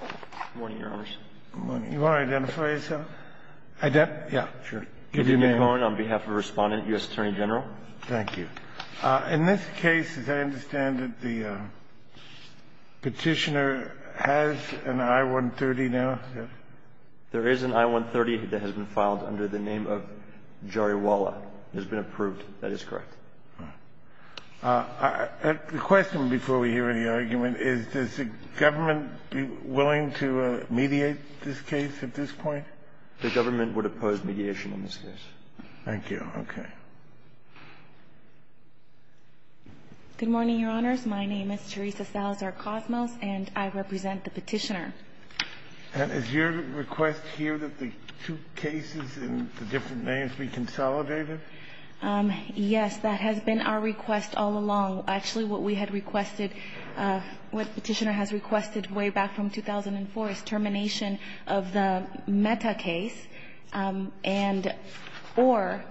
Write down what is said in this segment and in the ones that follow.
Good morning, Your Honors. Good morning. Do you want to identify yourself? Yeah, sure. Give your name. Eugene Cohen, on behalf of the Respondent, U.S. Attorney General. Thank you. In this case, as I understand it, the petitioner has an I-130 now? There is an I-130 that has been filed under the name of Jariwala. It has been approved. That is correct. The question, before we hear any argument, is does the government be willing to mediate this case at this point? The government would oppose mediation in this case. Thank you. Okay. Good morning, Your Honors. My name is Teresa Salazar-Cosmos, and I represent the petitioner. And is your request here that the two cases in the different names be consolidated? Yes, that has been our request all along. Actually, what we had requested, what the petitioner has requested way back from 2004 is termination of the Mehta case and or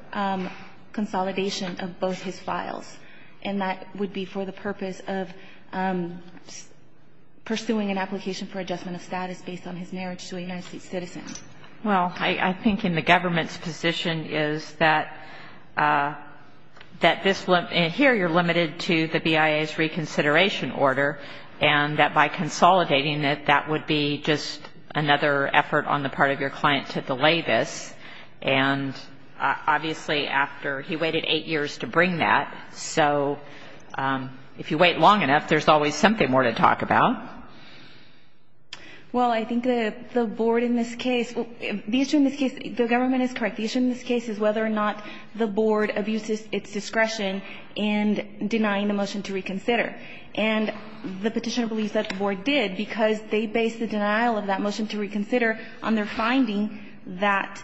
consolidation of both his files. And that would be for the purpose of pursuing an application for adjustment of status based on his marriage to a United States citizen. Well, I think in the government's position is that this, here you're limited to the BIA's reconsideration order, and that by consolidating it, that would be just another effort on the part of your client to delay this. And obviously, after he waited eight years to bring that, so if you wait long enough, there's always something more to talk about. Well, I think the board in this case, the issue in this case, the government is correct, the issue in this case is whether or not the board abuses its discretion in denying the motion to reconsider. And the petitioner believes that the board did because they based the denial of that motion to reconsider on their finding that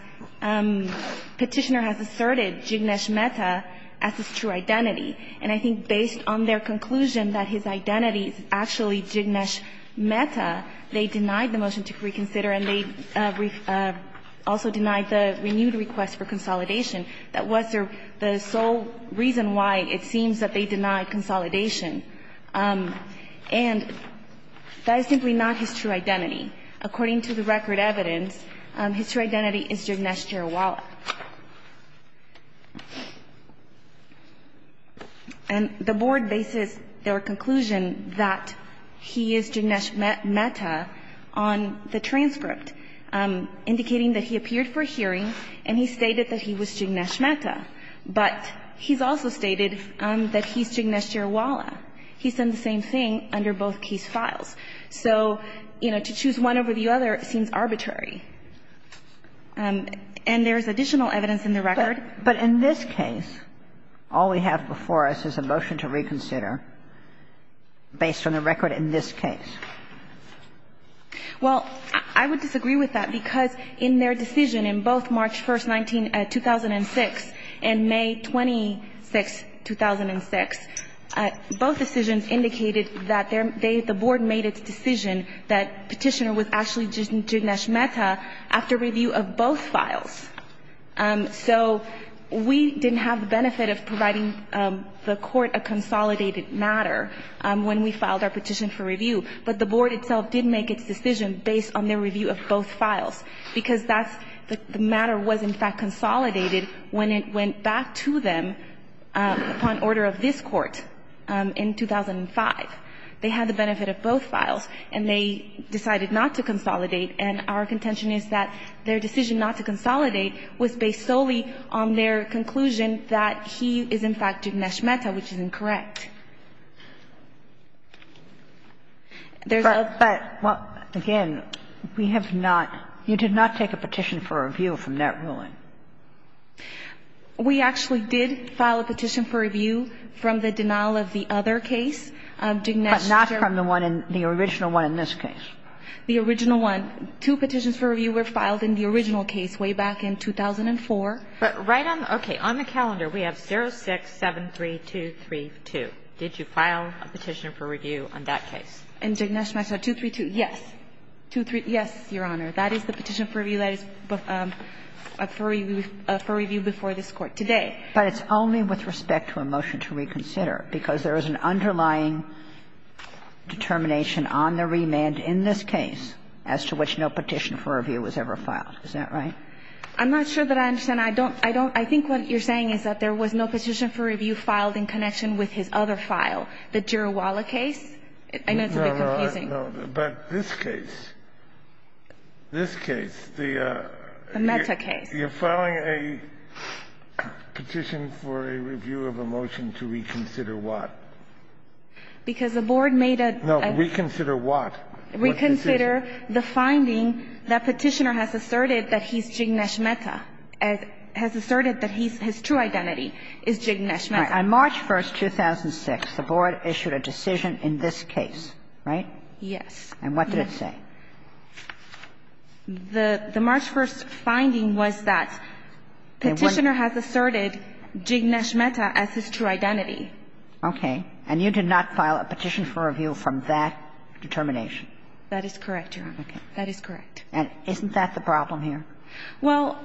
Petitioner has asserted Jignesh Mehta as his true identity. And I think based on their conclusion that his identity is actually Jignesh Mehta, they denied the motion to reconsider and they also denied the renewed request for consolidation. That was the sole reason why it seems that they denied consolidation. And that is simply not his true identity. According to the record evidence, his true identity is Jignesh Jirawala. And the board bases their conclusion that he is Jignesh Mehta on the transcript, indicating that he appeared for a hearing and he stated that he was Jignesh Mehta, but he's also stated that he's Jignesh Jirawala. He's done the same thing under both case files. So, you know, to choose one over the other seems arbitrary. And there is additional evidence in the record. But in this case, all we have before us is a motion to reconsider based on the record in this case. Well, I would disagree with that, because in their decision in both March 1st, 2006 and May 26th, 2006, both decisions indicated that the board made its decision that Petitioner was actually Jignesh Mehta after review of both files. So we didn't have the benefit of providing the Court a consolidated matter when we filed our petition for review. But the board itself did make its decision based on their review of both files, because that's the matter was, in fact, consolidated when it went back to them upon order of this Court in 2005. They had the benefit of both files, and they decided not to consolidate. And our contention is that their decision not to consolidate was based solely on their conclusion that he is, in fact, Jignesh Mehta, which is incorrect. There's a other. But, again, we have not you did not take a petition for review from that ruling. We actually did file a petition for review from the denial of the other case. But not from the one in the original one in this case. The original one. Two petitions for review were filed in the original case way back in 2004. But right on, okay, on the calendar we have 0673232. Did you file a petition for review on that case? In Jignesh Mehta, 232, yes. 232, yes, Your Honor. That is the petition for review that is for review before this Court today. But it's only with respect to a motion to reconsider, because there is an underlying determination on the remand in this case as to which no petition for review was ever filed. Is that right? I'm not sure that I understand. I don't, I don't. I think what you're saying is that there was no petition for review filed in connection with his other file, the Jirawala case. I know it's a bit confusing. No, no, no. But this case, this case, the you're filing a petition for review. You're filing a petition for a review of a motion to reconsider what? Because the Board made a no. Reconsider what? Reconsider the finding that Petitioner has asserted that he's Jignesh Mehta, has asserted that he's, his true identity is Jignesh Mehta. On March 1, 2006, the Board issued a decision in this case, right? Yes. And what did it say? The March 1 finding was that Petitioner has asserted Jignesh Mehta as his true identity. Okay. And you did not file a petition for review from that determination? That is correct, Your Honor. Okay. That is correct. And isn't that the problem here? Well,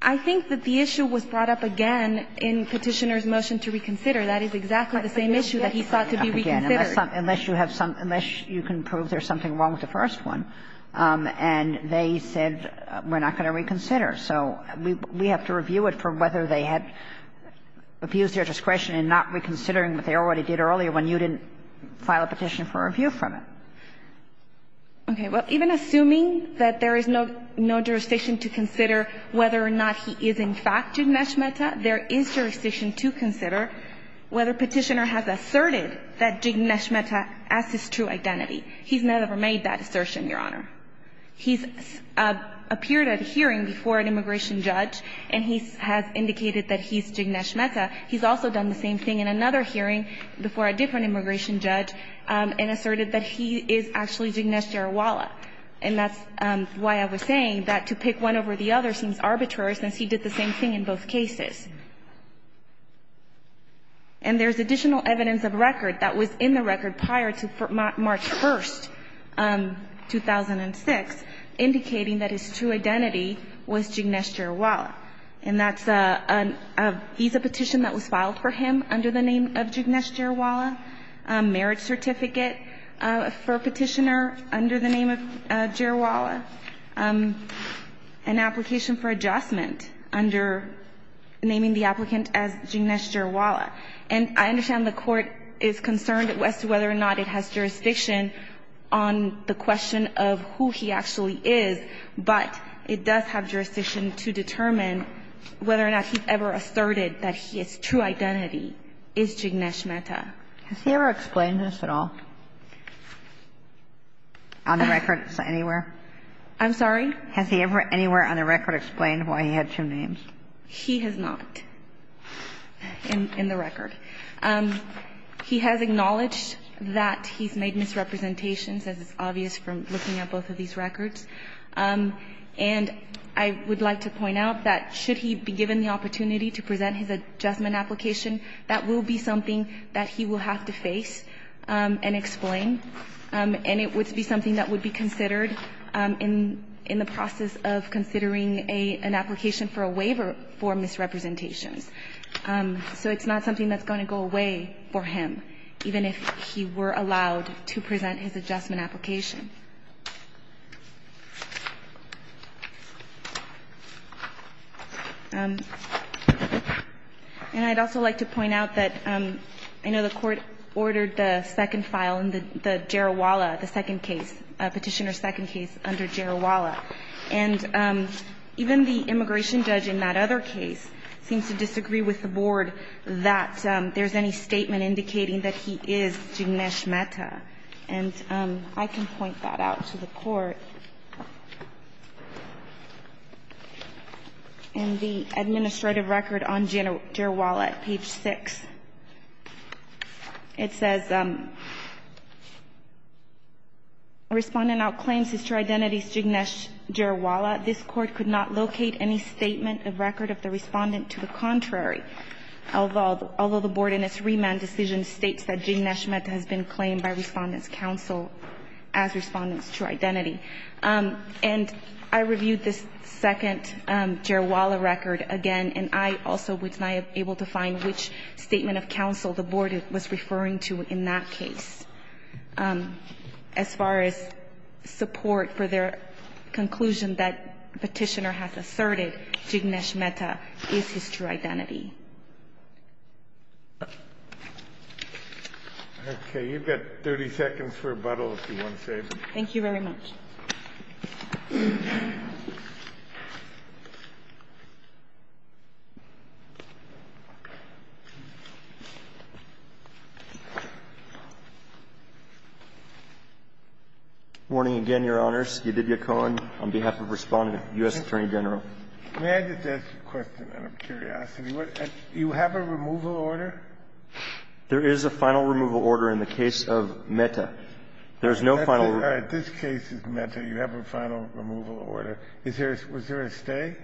I think that the issue was brought up again in Petitioner's motion to reconsider. That is exactly the same issue that he sought to be reconsidered. Unless you have some – unless you can prove there's something wrong with the first one. And they said, we're not going to reconsider. So we have to review it for whether they had abused their discretion in not reconsidering what they already did earlier when you didn't file a petition for review from it. Okay. Well, even assuming that there is no jurisdiction to consider whether or not he is in fact Jignesh Mehta, there is jurisdiction to consider whether Petitioner has asserted that Jignesh Mehta as his true identity. He's never made that assertion, Your Honor. He's appeared at a hearing before an immigration judge, and he has indicated that he's Jignesh Mehta. He's also done the same thing in another hearing before a different immigration judge and asserted that he is actually Jignesh Jarawalla. And that's why I was saying that to pick one over the other seems arbitrary, since he did the same thing in both cases. And there's additional evidence of record that was in the record prior to March 1st, 2006, indicating that his true identity was Jignesh Jarawalla. And that's a visa petition that was filed for him under the name of Jignesh Jarawalla, a marriage certificate for Petitioner under the name of Jarawalla, an application for adjustment under naming the applicant as Jignesh Jarawalla. And I understand the Court is concerned as to whether or not it has jurisdiction on the question of who he actually is, but it does have jurisdiction to determine whether or not he ever asserted that his true identity is Jignesh Mehta. Has he ever explained this at all on the records anywhere? I'm sorry? Has he ever anywhere on the record explained why he had two names? He has not in the record. He has acknowledged that he's made misrepresentations, as is obvious from looking at both of these records. And I would like to point out that should he be given the opportunity to present his adjustment application, that will be something that he will have to face and explain, and it would be something that would be considered in the process of considering an application for a waiver for misrepresentations. So it's not something that's going to go away for him, even if he were allowed to present his adjustment application. And I'd also like to point out that I know the Court ordered the second file in the case, Petitioner's second case under Jarawalla. And even the immigration judge in that other case seems to disagree with the Board that there's any statement indicating that he is Jignesh Mehta. And I can point that out to the Court. In the administrative record on Jarawalla at page 6, it says, Respondent outclaims his true identity as Jignesh Jarawalla. This Court could not locate any statement of record of the Respondent to the contrary, although the Board in its remand decision states that Jignesh Mehta has been claimed by Respondent's counsel as Respondent's true identity. And I reviewed this second Jarawalla record again, and I also was not able to find which statement of counsel the Board was referring to in that case. As far as support for their conclusion that Petitioner has asserted Jignesh Mehta is his true identity. Okay. You've got 30 seconds for rebuttal, if you want to say something. Thank you very much. Warning again, Your Honors. Yadid Yacouan on behalf of Respondent, U.S. Attorney General. May I just ask a question out of curiosity? You have a removal order? There is a final removal order in the case of Mehta. There is no final. All right. This case is Mehta. You have a final removal order. Is there a stay?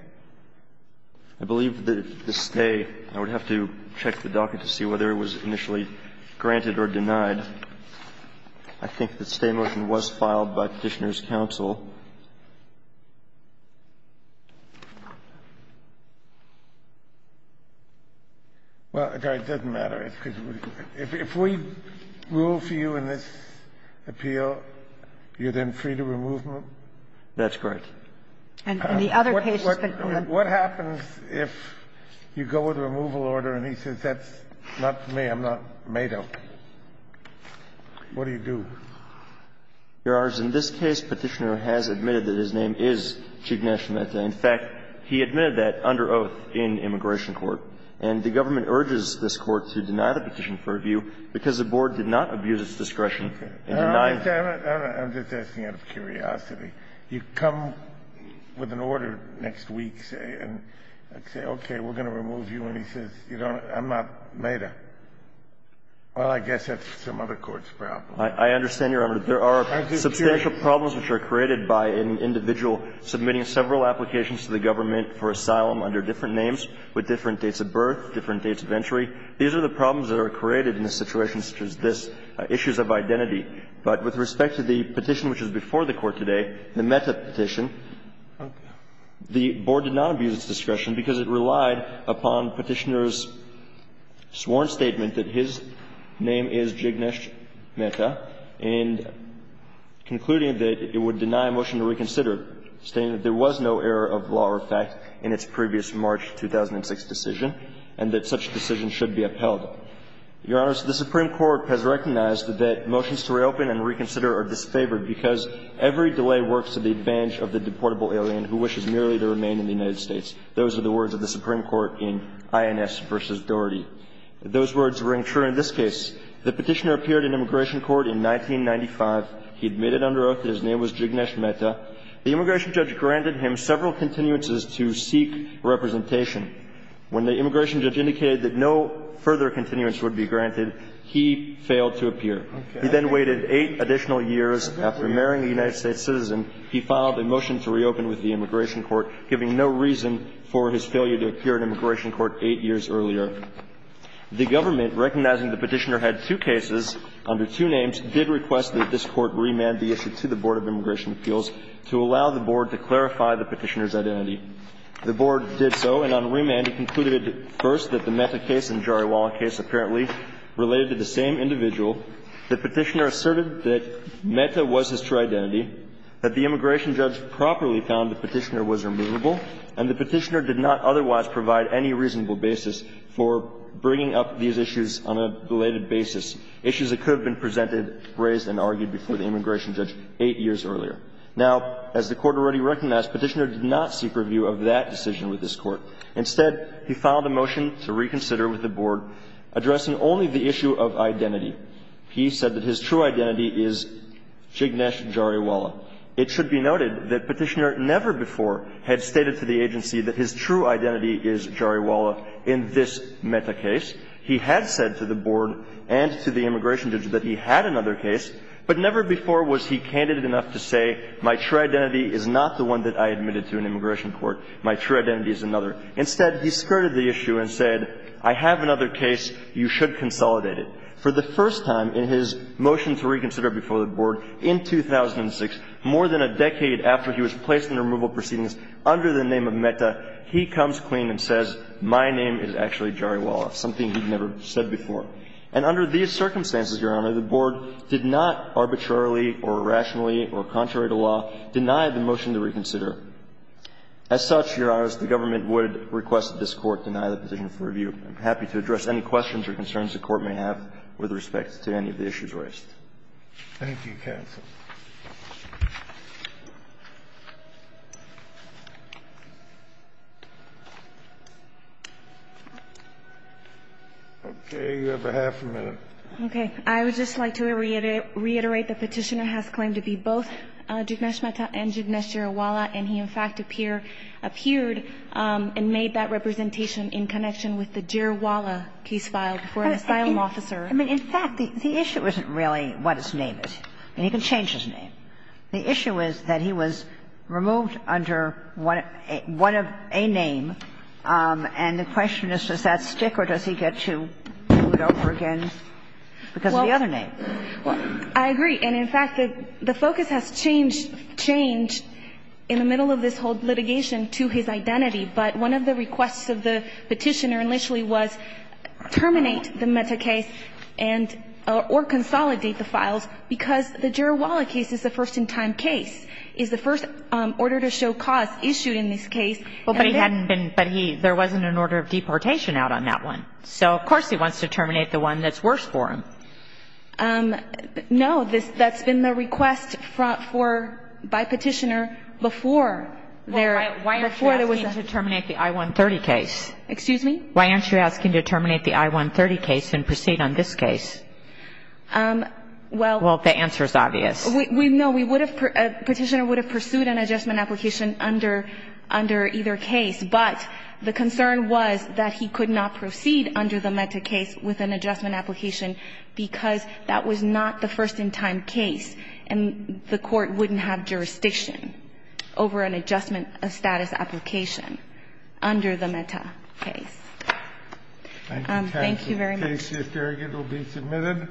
I believe the stay, I would have to check the docket to see whether it was initially granted or denied. I think the stay motion was filed by Petitioner's counsel. Well, it doesn't matter. If we rule for you in this appeal, you're then free to remove him? That's correct. And the other case is that the other one. What happens if you go with a removal order and he says that's not me, I'm not Mehta? What do you do? Your Honors, in this case, Petitioner has admitted that his name is Cheek Nash Mehta. In fact, he admitted that under oath in immigration court. And the government urges this Court to deny the petition for review because the Board did not abuse its discretion in denying it. I'm just asking out of curiosity. You come with an order next week, say, and say, okay, we're going to remove you, and he says, I'm not Mehta. Well, I guess that's some other court's problem. I understand, Your Honor, that there are substantial problems which are created by an individual submitting several applications to the government for asylum under different names with different dates of birth, different dates of entry. These are the problems that are created in a situation such as this, issues of identity. But with respect to the petition which is before the Court today, the Mehta petition, the Board did not abuse its discretion because it relied upon Petitioner's discretion in concluding that it would deny a motion to reconsider, stating that there was no error of law or fact in its previous March 2006 decision and that such decision should be upheld. Your Honors, the Supreme Court has recognized that motions to reopen and reconsider are disfavored because every delay works to the advantage of the deportable alien who wishes merely to remain in the United States. Those are the words of the Supreme Court in Ins v. Doherty. Those words ring true in this case. The Petitioner appeared in immigration court in 1995. He admitted under oath that his name was Jignesh Mehta. The immigration judge granted him several continuances to seek representation. When the immigration judge indicated that no further continuance would be granted, he failed to appear. He then waited eight additional years. After marrying a United States citizen, he filed a motion to reopen with the immigration court, giving no reason for his failure to appear in immigration court eight years earlier. The government, recognizing the Petitioner had two cases under two names, did request that this Court remand the issue to the Board of Immigration Appeals to allow the Board to clarify the Petitioner's identity. The Board did so, and on remand, it concluded first that the Mehta case and Jariwala case apparently related to the same individual. The Petitioner asserted that Mehta was his true identity, that the immigration judge properly found the Petitioner was removable, and the Petitioner did not otherwise provide any reasonable basis for bringing up these issues on a related basis, issues that could have been presented, raised, and argued before the immigration judge eight years earlier. Now, as the Court already recognized, Petitioner did not seek review of that decision with this Court. Instead, he filed a motion to reconsider with the Board, addressing only the issue of identity. He said that his true identity is Jignesh Jariwala. It should be noted that Petitioner never before had stated to the agency that his true identity is Jariwala in this Mehta case. He had said to the Board and to the immigration judge that he had another case, but never before was he candid enough to say, my true identity is not the one that I admitted to an immigration court. My true identity is another. Instead, he skirted the issue and said, I have another case. You should consolidate it. For the first time in his motion to reconsider before the Board in 2006, more than a decade after he was placed in removal proceedings under the name of Mehta, he comes clean and says, my name is actually Jariwala, something he'd never said before. And under these circumstances, Your Honor, the Board did not arbitrarily or irrationally or contrary to law deny the motion to reconsider. As such, Your Honors, the government would request that this Court deny the petition for review. I'm happy to address any questions or concerns the Court may have with respect to any of the issues raised. Thank you, counsel. Okay. You have half a minute. Okay. I would just like to reiterate the Petitioner has claimed to be both Jignesh Mehta and Jignesh Jariwala, and he, in fact, appeared and made that representation in connection with the Jariwala case file before an asylum officer. I mean, in fact, the issue isn't really what his name is. I mean, he can change his name. The issue is that he was removed under one of a name, and the question is, does that stick or does he get to do it over again because of the other name? Well, I agree. And in fact, the focus has changed in the middle of this whole litigation to his identity. But one of the requests of the Petitioner initially was terminate the Mehta case and or consolidate the files because the Jariwala case is the first-in-time case, is the first order to show cause issued in this case. Well, but he hadn't been, but he, there wasn't an order of deportation out on that one. So, of course, he wants to terminate the one that's worse for him. No. That's been the request for, by Petitioner before there, before there was a. Well, why aren't you asking to terminate the I-130 case? Excuse me? Why aren't you asking to terminate the I-130 case and proceed on this case? Well. Well, the answer is obvious. No, we would have, Petitioner would have pursued an adjustment application under, under either case, but the concern was that he could not proceed under the Mehta case with an adjustment application because that was not the first-in-time case, and the Court wouldn't have jurisdiction over an adjustment of status application under the Mehta case. Thank you very much. Thank you. The case here, Farragut, will be submitted.